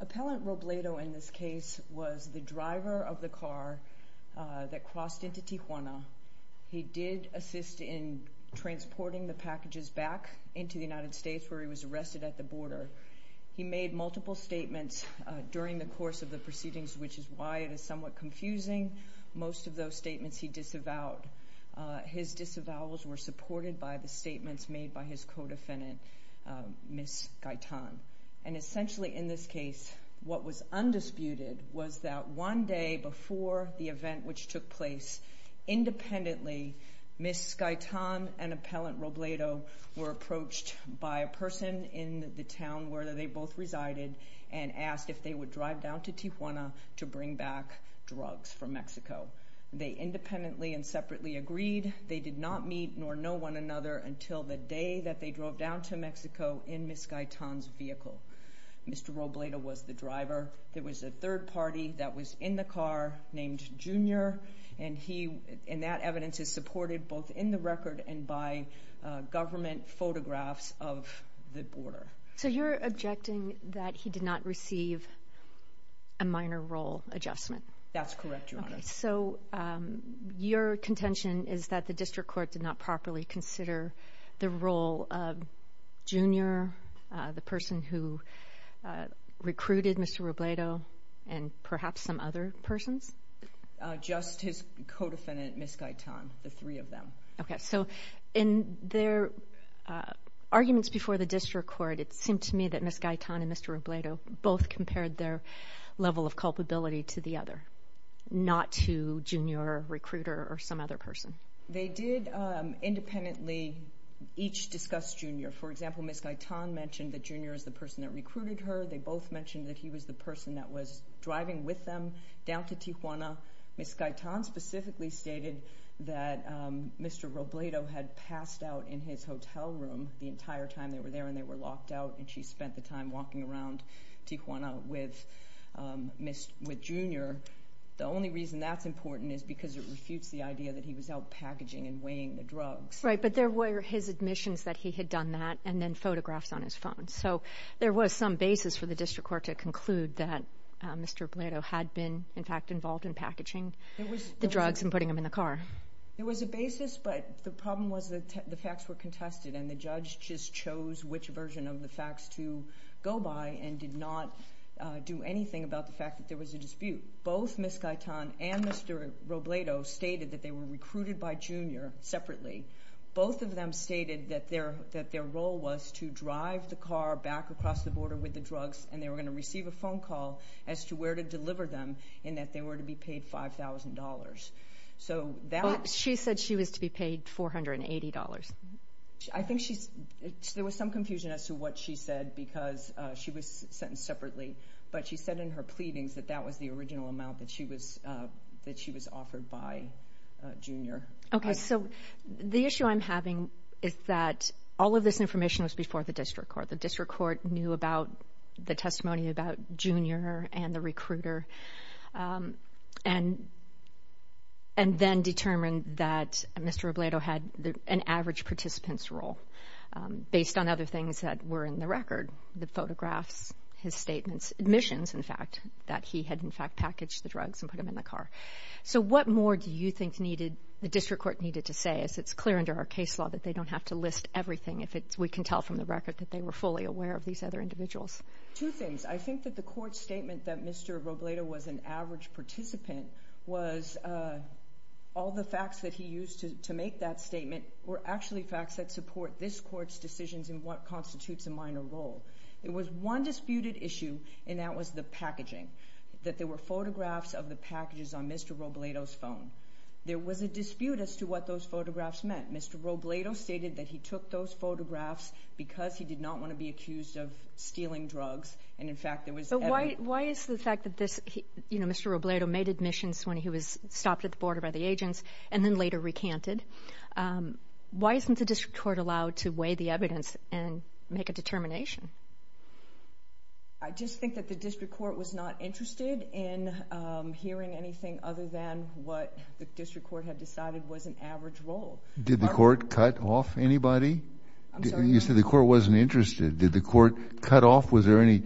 Appellant Robledo in this case was the driver of the car that crossed into Tijuana. He did assist in transporting the packages back into the United States where he was arrested at the border. He made multiple statements during the course of the proceedings, which is why it is somewhat confusing. Most of those statements he disavowed. His disavowals were supported by the statements made by his co-defendant, Ms. Gaitan. And essentially in this case, what was undisputed was that one day before the event, which took place independently, Ms. Gaitan and Appellant Robledo were approached by a person in the town where they both resided and asked if they would drive down to Tijuana to bring back drugs from Mexico. They independently and separately agreed. They did not meet nor know one another until the day that they drove down to Mexico in Ms. Gaitan's vehicle. Mr. Robledo was the driver. There was a third party that was in the car named Junior, and that evidence is supported both in the record and by government photographs of the border. So you're objecting that he did not receive a minor role adjustment? That's correct, Your Honor. So your contention is that the District Court did not properly consider the role of Junior, the person who recruited Mr. Robledo, and perhaps some other persons? Just his co-defendant, Ms. Gaitan, the three of them. Okay, so in their arguments before the District Court, it seemed to me that Ms. Gaitan and Mr. Robledo both compared their level of culpability to the other, not to Junior, a recruiter, or some other person. They did independently each discuss Junior. For example, Ms. Gaitan mentioned that Junior is the person that recruited her. They both mentioned that he was the person that was driving with them down to Tijuana. Ms. Gaitan specifically stated that Mr. Robledo had passed out in his hotel room the entire time they were there, and they were locked out, and she spent the time walking around Tijuana with Junior. The only reason that's important is because it refutes the idea that he was out packaging and weighing the drugs. Right, but there were his admissions that he had done that, and then photographs on his phone. So there was some basis for the District Court to conclude that Mr. Robledo had been, in fact, involved in packaging the drugs and putting them in the car. There was a basis, but the problem was that the facts were contested, and the judge just chose which version of the facts to go by, and did not do anything about the fact that there was a dispute. Both Ms. Gaitan and Mr. Robledo stated that they were recruited by Junior separately. Both of them stated that their role was to drive the car back across the border with the drugs, and they were going to receive a phone call as to where to deliver them, and that they were to be paid $5,000. So that... But she said she was to be paid $480. I think there was some confusion as to what she said, because she was sentenced separately, but she said in her pleadings that that was the original amount that she was offered by Junior. Okay, so the issue I'm having is that all of this information was before the District Court. The District Court knew about the testimony about Junior and the recruiter, and then determined that Mr. Robledo had an average participant's role, based on other things that were in the record, the photographs, his statements, admissions, in fact, that he had in fact packaged the drugs and put them in the car. So what more do you think needed... The District Court needed to say, as it's clear under our case law that they don't have to list everything if it's... We can tell from the record that they were fully aware of these other individuals. Two things. I think that the court's statement that Mr. Robledo was an average participant was... All the facts that he used to make that statement were actually facts that support this court's decisions in what constitutes a minor role. It was one disputed issue, and that was the packaging, that there were photographs of the packages on Mr. Robledo's phone. There was a dispute as to what those photographs meant. Mr. Robledo stated that he took those photographs because he did not want to be accused of stealing drugs, and in fact there was evidence... But why is the fact that this... Mr. Robledo made admissions when he was stopped at the border by the agents, and then later recanted? Why isn't the District Court allowed to weigh the evidence and make a determination? I just think that the District Court was not interested in hearing anything other than what the District Court had decided was an average role. Did the court cut off anybody? I'm sorry? You said the court wasn't interested. Did the court cut off... Was there any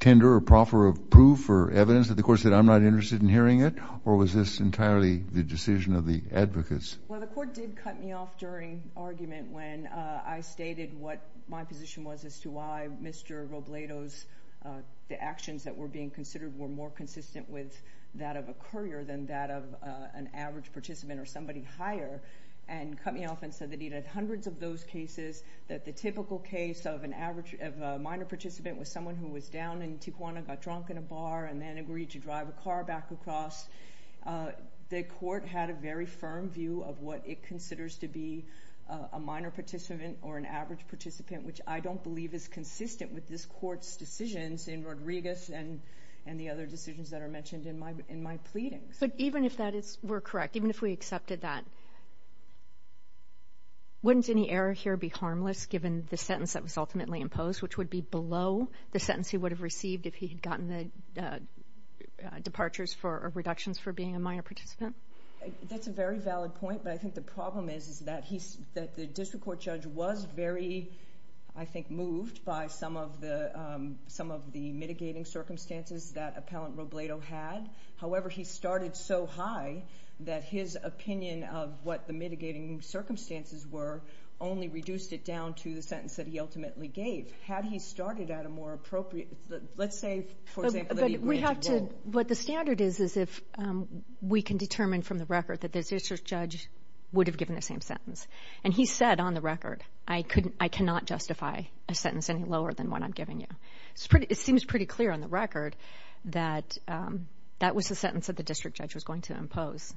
tender or proffer of proof or evidence that the court said, I'm not interested in hearing it, or was this entirely the decision of the advocates? Well, the court did cut me off during argument when I stated what my position was as to why Mr. Robledo's... The actions that were being considered were more consistent with that of a courier than that of an average participant or somebody higher, and cut me off and said that he'd had hundreds of those cases, that the typical case of a minor participant was someone who was down in Tijuana, got drunk in a bar, and then agreed to drive a car back across. The court had a very firm view of what it considers to be a minor participant or an average participant, which I don't believe is consistent with this court's decisions in Rodriguez and the other decisions that are mentioned in my pleadings. But even if that is... We're correct. Even if we accepted that, wouldn't any error here be harmless, given the sentence that was ultimately imposed, which would be below the sentence he would have received if he had gotten the departures or reductions for being a minor participant? That's a very valid point, but I think the problem is that the district court judge was very, I think, moved by some of the mitigating circumstances that Appellant Robledo had. However, he started so high that his opinion of what the mitigating circumstances were only reduced it down to the sentence that he ultimately gave. Had he started at a more appropriate... Let's say, for example, that he... What the standard is, is if we can determine from the record that the district judge would have given the same sentence. And he said on the record, I cannot justify a sentence any lower than what I'm giving you. It seems pretty clear on the record that that was the sentence that the district judge was going to impose.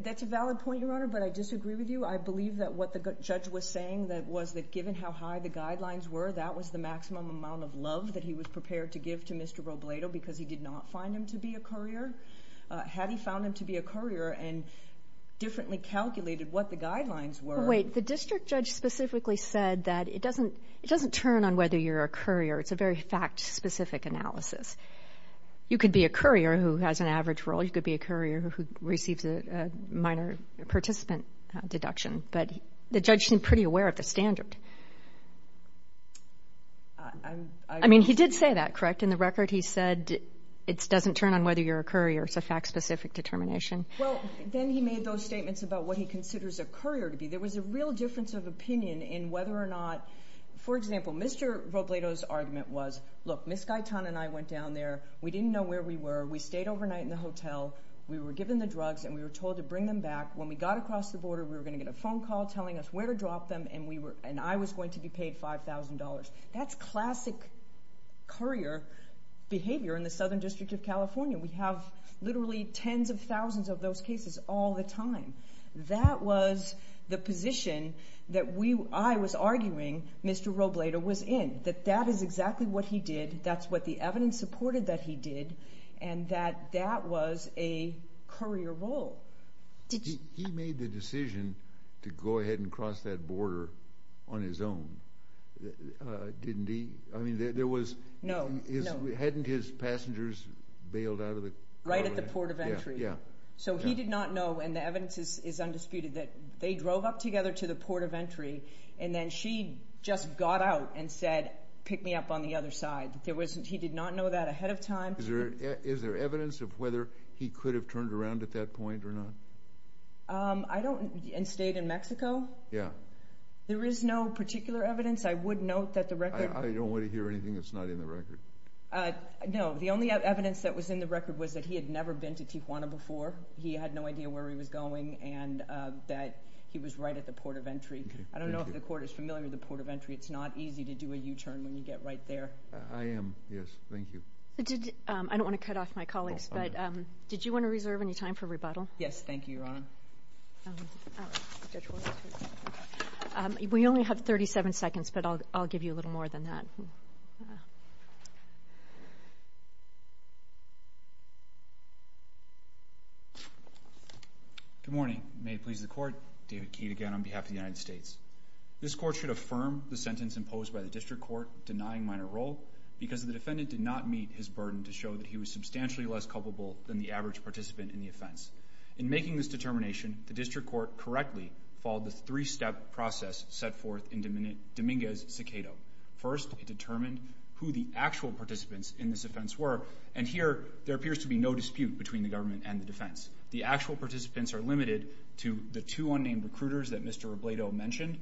That's a valid point, Your Honor, but I disagree with you. I believe that what the judge was saying was that given how high the guidelines were, that was the maximum amount of love that he was prepared to give to Mr. Robledo because he did not find him to be a courier. Had he found him to be a courier and differently calculated what the guidelines were... Wait, the district judge specifically said that it doesn't turn on whether you're a courier. It's a very fact-specific analysis. You could be a courier who has an average role. You could be a courier who receives a minor participant deduction. But the judge seemed pretty aware of the standard. I mean, he did say that, correct? In the record, he said it doesn't turn on whether you're a courier. It's a fact-specific determination. Well, then he made those statements about what he considers a courier to be. There was a real difference of opinion in whether or not... For example, Mr. Robledo's argument was, look, Ms. Guyton and I went down there. We didn't know where we were. We stayed overnight in the hotel. We were given the drugs and we were told to bring them back. When we got across the border, we were going to get a phone call telling us where to drop them and I was going to be paid $5,000. That's classic courier behavior in the Southern District of California. We have literally tens of thousands of those cases all the time. That was the position that I was arguing Mr. Robledo was in, that that is exactly what he did. That's what the evidence supported that he did and that that was a courier role. He made the decision to go ahead and cross that border on his own, didn't he? I mean, there was... No, no. Hadn't his passengers bailed out of the... Right at the port of entry. Yeah, yeah. So he did not know, and the evidence is undisputed, that they drove up together to the port of entry and then she just got out and said, pick me up on the other side. He did not know that ahead of time. Is there evidence of whether he could have turned around at that point or not? I don't... and stayed in Mexico? Yeah. There is no particular evidence. I would note that the record... I don't want to hear anything that's not in the record. No, the only evidence that was in the record was that he had never been to Tijuana before. He had no idea where he was going and that he was right at the port of entry. I don't know if the court is familiar with the port of entry. It's not easy to do a U-turn when you get right there. I am, yes. Thank you. I don't want to cut off my colleagues, but did you want to reserve any time for rebuttal? Yes, thank you, Your Honor. We only have 37 seconds, but I'll give you a little more than that. Good morning. May it please the Court, David Keat again on behalf of the United States. This Court should affirm the sentence imposed by the District Court denying minor role because the defendant did not meet his burden to show that he was substantially less culpable than the average participant in the offense. In making this determination, the District Court correctly followed the three-step process set forth in Dominguez's cicado. First, it determined who the actual participants in this offense were, and here there appears to be no dispute between the government and the defense. The actual participants are limited to the two unnamed recruiters that Mr. Robledo mentioned,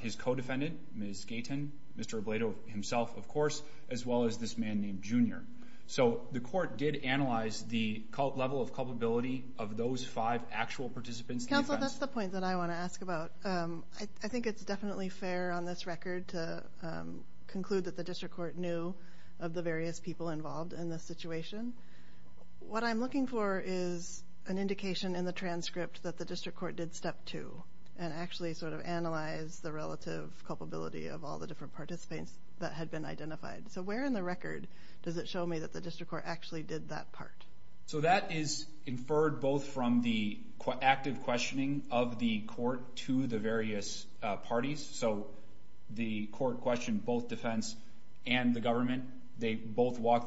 his co-defendant, Ms. Gayton, Mr. Robledo himself, of course, as well as this man named Junior. So the court did analyze the level of culpability of those five actual participants in the offense. Counsel, that's the point that I want to ask about. I think it's definitely fair on this record to conclude that the District Court knew of the various people involved in this situation. What I'm looking for is an indication in the transcript that the District Court did step two and actually sort of analyzed the relative culpability of all the different participants that had been identified. So where in the record does it show me that the District Court actually did that part? So that is inferred both from the active questioning of the court to the various parties. So the court walked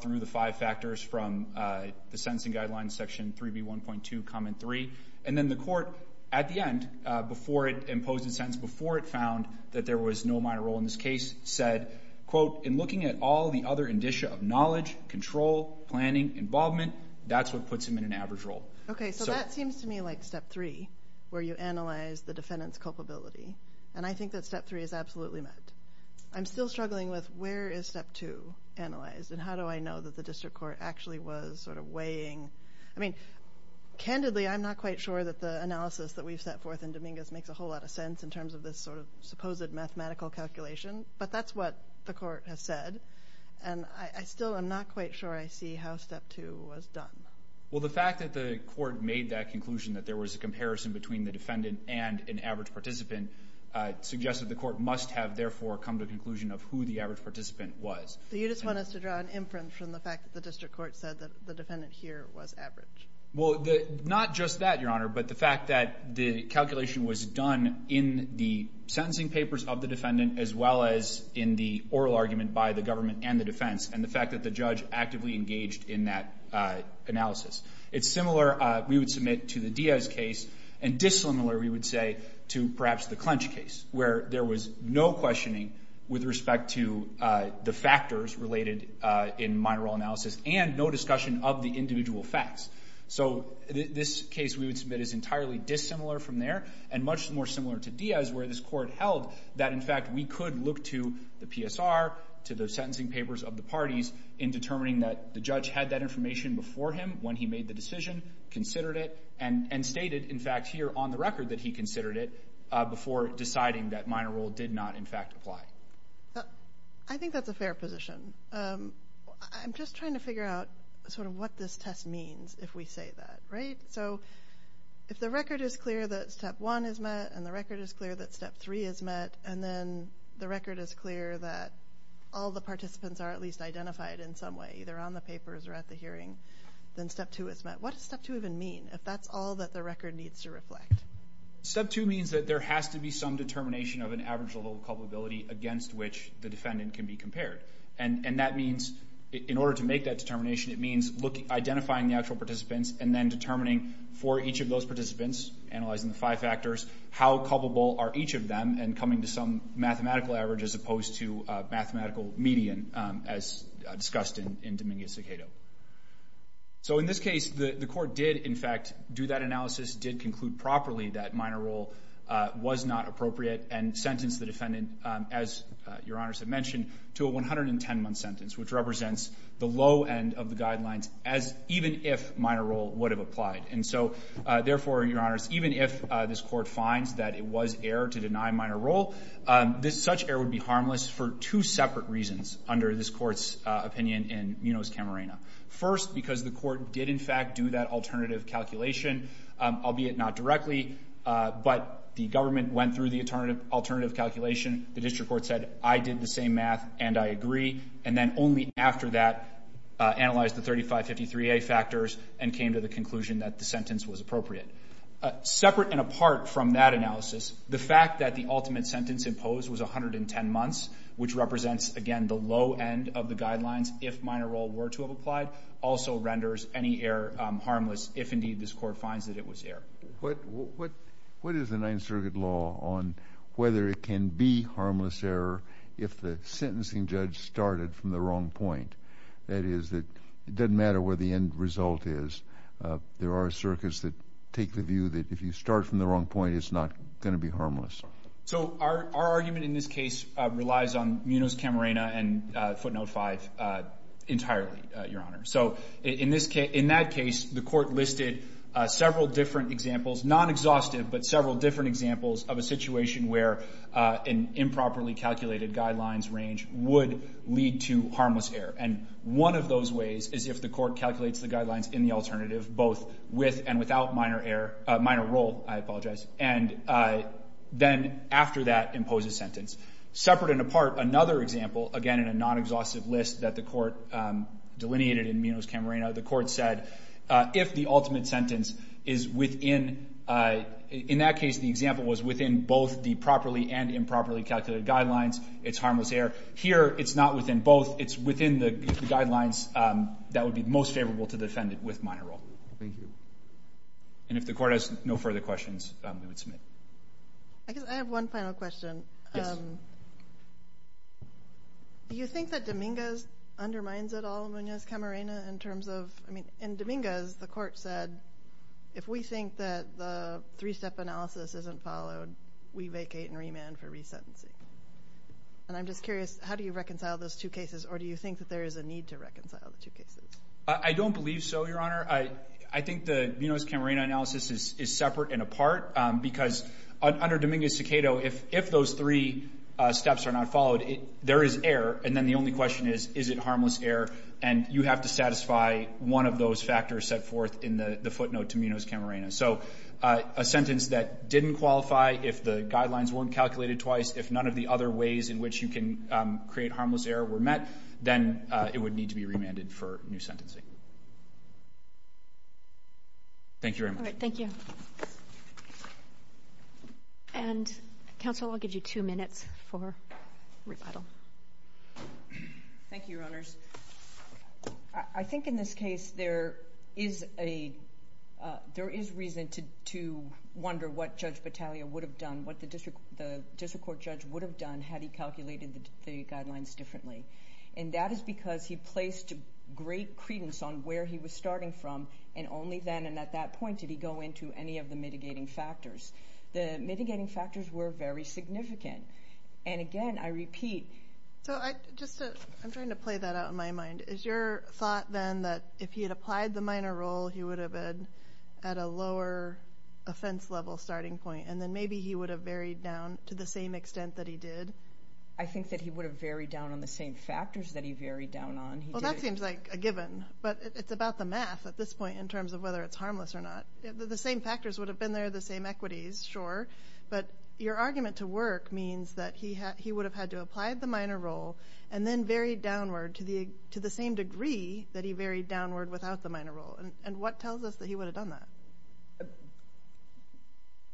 through the five factors from the Sentencing Guidelines, Section 3B1.2, Comment 3. And then the court, at the end, before it imposed a sentence, before it found that there was no minor role in this case, said, quote, in looking at all the other indicia of knowledge, control, planning, involvement, that's what puts him in an average role. Okay, so that seems to me like step three, where you analyze the defendant's culpability. And I think that step three is absolutely met. I'm still struggling with where is step two analyzed? And how do I know that the District Court actually was sort of weighing? I mean, candidly, I'm not quite sure that the analysis that we've set forth in Dominguez makes a whole lot of sense in terms of this sort of supposed mathematical calculation. But that's what the court has said. And I still am not quite sure I see how step two was done. Well, the fact that the court made that conclusion that there was a comparison between the defendant and an average participant suggests that the court must have, therefore, come to a conclusion of who the average participant was. So you just want us to draw an imprint from the fact that the District Court said that the defendant here was average? Well, not just that, Your Honor, but the fact that the calculation was done in the sentencing papers of the defendant, as well as in the oral argument by the government and the defense, and the fact that the judge actively engaged in that analysis. It's similar, we would submit to the Diaz case, and dissimilar, we would say, to perhaps the Clench case, where there was no questioning with respect to the factors related in minor role analysis, and no discussion of the individual facts. So this case, we would submit, is entirely dissimilar from there, and much more similar to Diaz, where this court held that, in fact, we could look to the PSR, to the sentencing papers of the parties, in determining that the judge had that information before him when he made the decision, considered it, and stated, in fact, here on the record that he considered it, before deciding that minor role did not, in fact, apply. I think that's a fair position. I'm just trying to figure out, sort of, what this test means, if we say that, right? So, if the record is clear that step one is met, and the record is clear that step three is met, and then the record is clear that all the participants are at least identified in some way, either on the papers or at the hearing, then step two is met. What does step two even mean, if that's all that the record needs to reflect? Step two means that there has to be some determination of an average level of culpability against which the defendant can be compared. And that means, in order to make that determination, it means identifying the actual participants, and then determining, for each of those participants, analyzing the five factors, how culpable are each of them, and coming to some mathematical average, as opposed to a mathematical median, as discussed in Dominguez-Cicado. So, in this case, the court did, in fact, do that analysis, did conclude properly that minor role was not appropriate, and sentenced the defendant, as Your Honors have mentioned, to a 110-month sentence, which represents the low end of the guidelines, even if minor role would have applied. And so, therefore, Your Honors, even if this court finds that it was error to deny minor role, such error would be harmless for two separate reasons, under this court's opinion in Munoz-Camarena. First, because the court did, in fact, do that alternative calculation, albeit not directly, but the government went through the alternative calculation, the district court said, I did the same math, and I agree, and then only after that, analyzed the 3553A factors, and came to the conclusion that the sentence was appropriate. Separate and apart from that analysis, the fact that the ultimate sentence imposed was 110 months, which represents, again, the low end of the guidelines, if minor role were to have applied, also renders any error harmless, if, indeed, this court finds that it was error. What is the Ninth Circuit law on whether it can be harmless error if the sentencing judge started from the wrong point? That is, it doesn't matter where the end result is, there are circuits that take the view that if you start from the wrong point, it's not going to be harmless. So, our argument in this case relies on Munoz-Camarena and footnote 5 entirely, Your Honor. So, in that case, the court listed several different examples, non-exhaustive, but several different examples of a situation where an improperly calculated guidelines range would lead to harmless error, and one of those ways is if the court calculates the guidelines in the alternative, both with and without minor role, and then, after that, imposes sentence. Separate and apart, another example, again, in a non-exhaustive list that the court delineated in Munoz-Camarena, the court said if the ultimate sentence is within, in that case, the example was within both the properly and improperly calculated guidelines, it's harmless error. Here, it's not within both, it's within the guidelines that would be most favorable to the defendant with minor role. Thank you. And if the court has no further questions, we would submit. I guess I have one final question. Do you think that Dominguez undermines it all, Munoz-Camarena, in terms of, I mean, in Dominguez, the court said, if we think that the three-step analysis isn't followed, we vacate and remand for resentencing. And I'm just curious, how do you reconcile those two cases, or do you think that there is a need to reconcile the two cases? I don't believe so, Your Honor. I think the Munoz-Camarena analysis is separate and apart because under Dominguez-Cicado, if those three steps are not followed, there is error, and then the only question is, is it harmless error, and you have to satisfy one of those factors set forth in the footnote to Munoz-Camarena. So a sentence that didn't qualify, if the guidelines weren't calculated twice, if none of the other ways in which you can create harmless error were met, then it would need to be remanded for new sentencing. Thank you very much. All right, thank you. And, counsel, I'll give you two minutes for rebuttal. Thank you, Your Honors. I think in this case, there is a, there is reason to wonder what Judge Battaglia would have done, what the district court judge would have done, had he calculated the guidelines differently. And that is because he placed great credence on where he was starting from, and only then and at that point did he go into any of the mitigating factors. The mitigating factors were very significant. And, again, I repeat. So I just, I'm trying to play that out in my mind. Is your thought, then, that if he had applied the minor role, he would have been at a lower offense-level starting point, and then maybe he would have varied down to the same extent that he did? I think that he would have varied down on the same factors that he varied down on. Well, that seems like a given. But it's about the math at this point in terms of whether it's harmless or not. The same factors would have been there, the same equities, sure. But your argument to work means that he would have had to apply the minor role and then varied downward to the same degree that he varied downward without the minor role. And what tells us that he would have done that?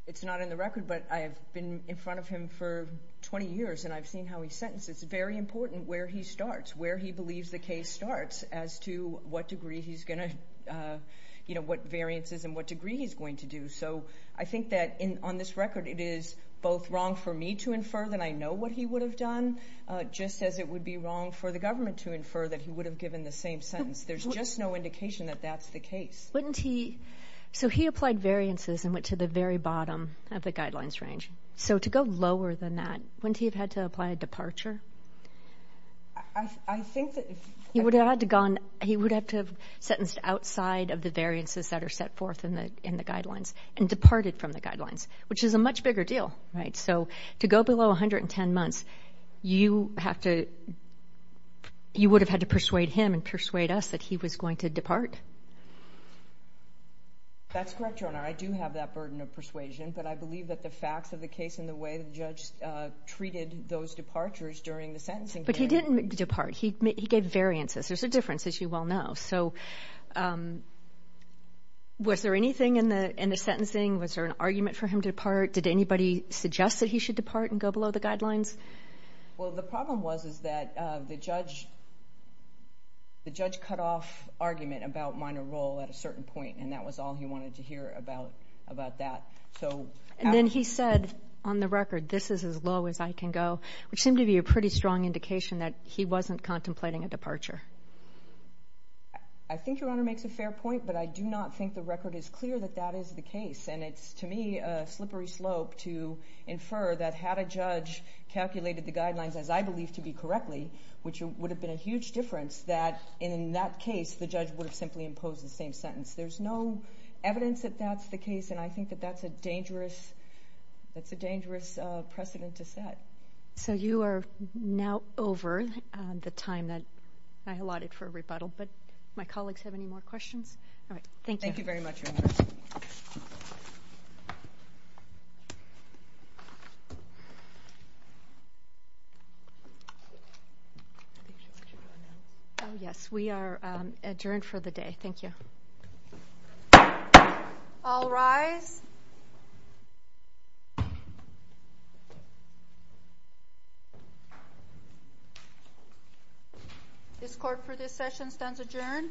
It's not in the record, but I've been in front of him for 20 years and I've seen how he sentences. It's very important where he starts, where he believes the case starts as to what degree he's going to, you know, what variances and what degree he's going to do. So I think that on this record it is both wrong for me to infer that I know what he would have done, just as it would be wrong for the government to infer that he would have given the same sentence. There's just no indication that that's the case. Wouldn't he – so he applied variances and went to the very bottom of the guidelines range. So to go lower than that, wouldn't he have had to apply a departure? I think that if – He would have had to gone – he would have to have sentenced outside of the variances that are set forth in the guidelines and departed from the guidelines, which is a much bigger deal, right? So to go below 110 months, you have to – you would have had to That's correct, Jonah. I do have that burden of persuasion, but I believe that the facts of the case and the way the judge treated those departures during the sentencing period – But he didn't depart. He gave variances. There's a difference, as you well know. So was there anything in the sentencing? Was there an argument for him to depart? Did anybody suggest that he should depart and go below the guidelines? Well, the problem was is that the judge cut off argument about minor role at a certain point, and that was all he wanted to hear about that. And then he said on the record, this is as low as I can go, which seemed to be a pretty strong indication that he wasn't contemplating a departure. I think Your Honor makes a fair point, but I do not think the record is clear that that And it's, to me, a slippery slope to infer that had a judge calculated the guidelines as I believe to be correctly, which would have been a huge difference, that in that case, the judge would have simply imposed the same sentence. There's no evidence that that's the case, and I think that that's a dangerous – that's a dangerous precedent to set. So you are now over the time that I allotted for rebuttal. But my colleagues have any more questions? All right. Thank you. Thank you very much, Your Honor. Oh, yes. We are adjourned for the day. Thank you. All rise. This court for this session stands adjourned. Thank you.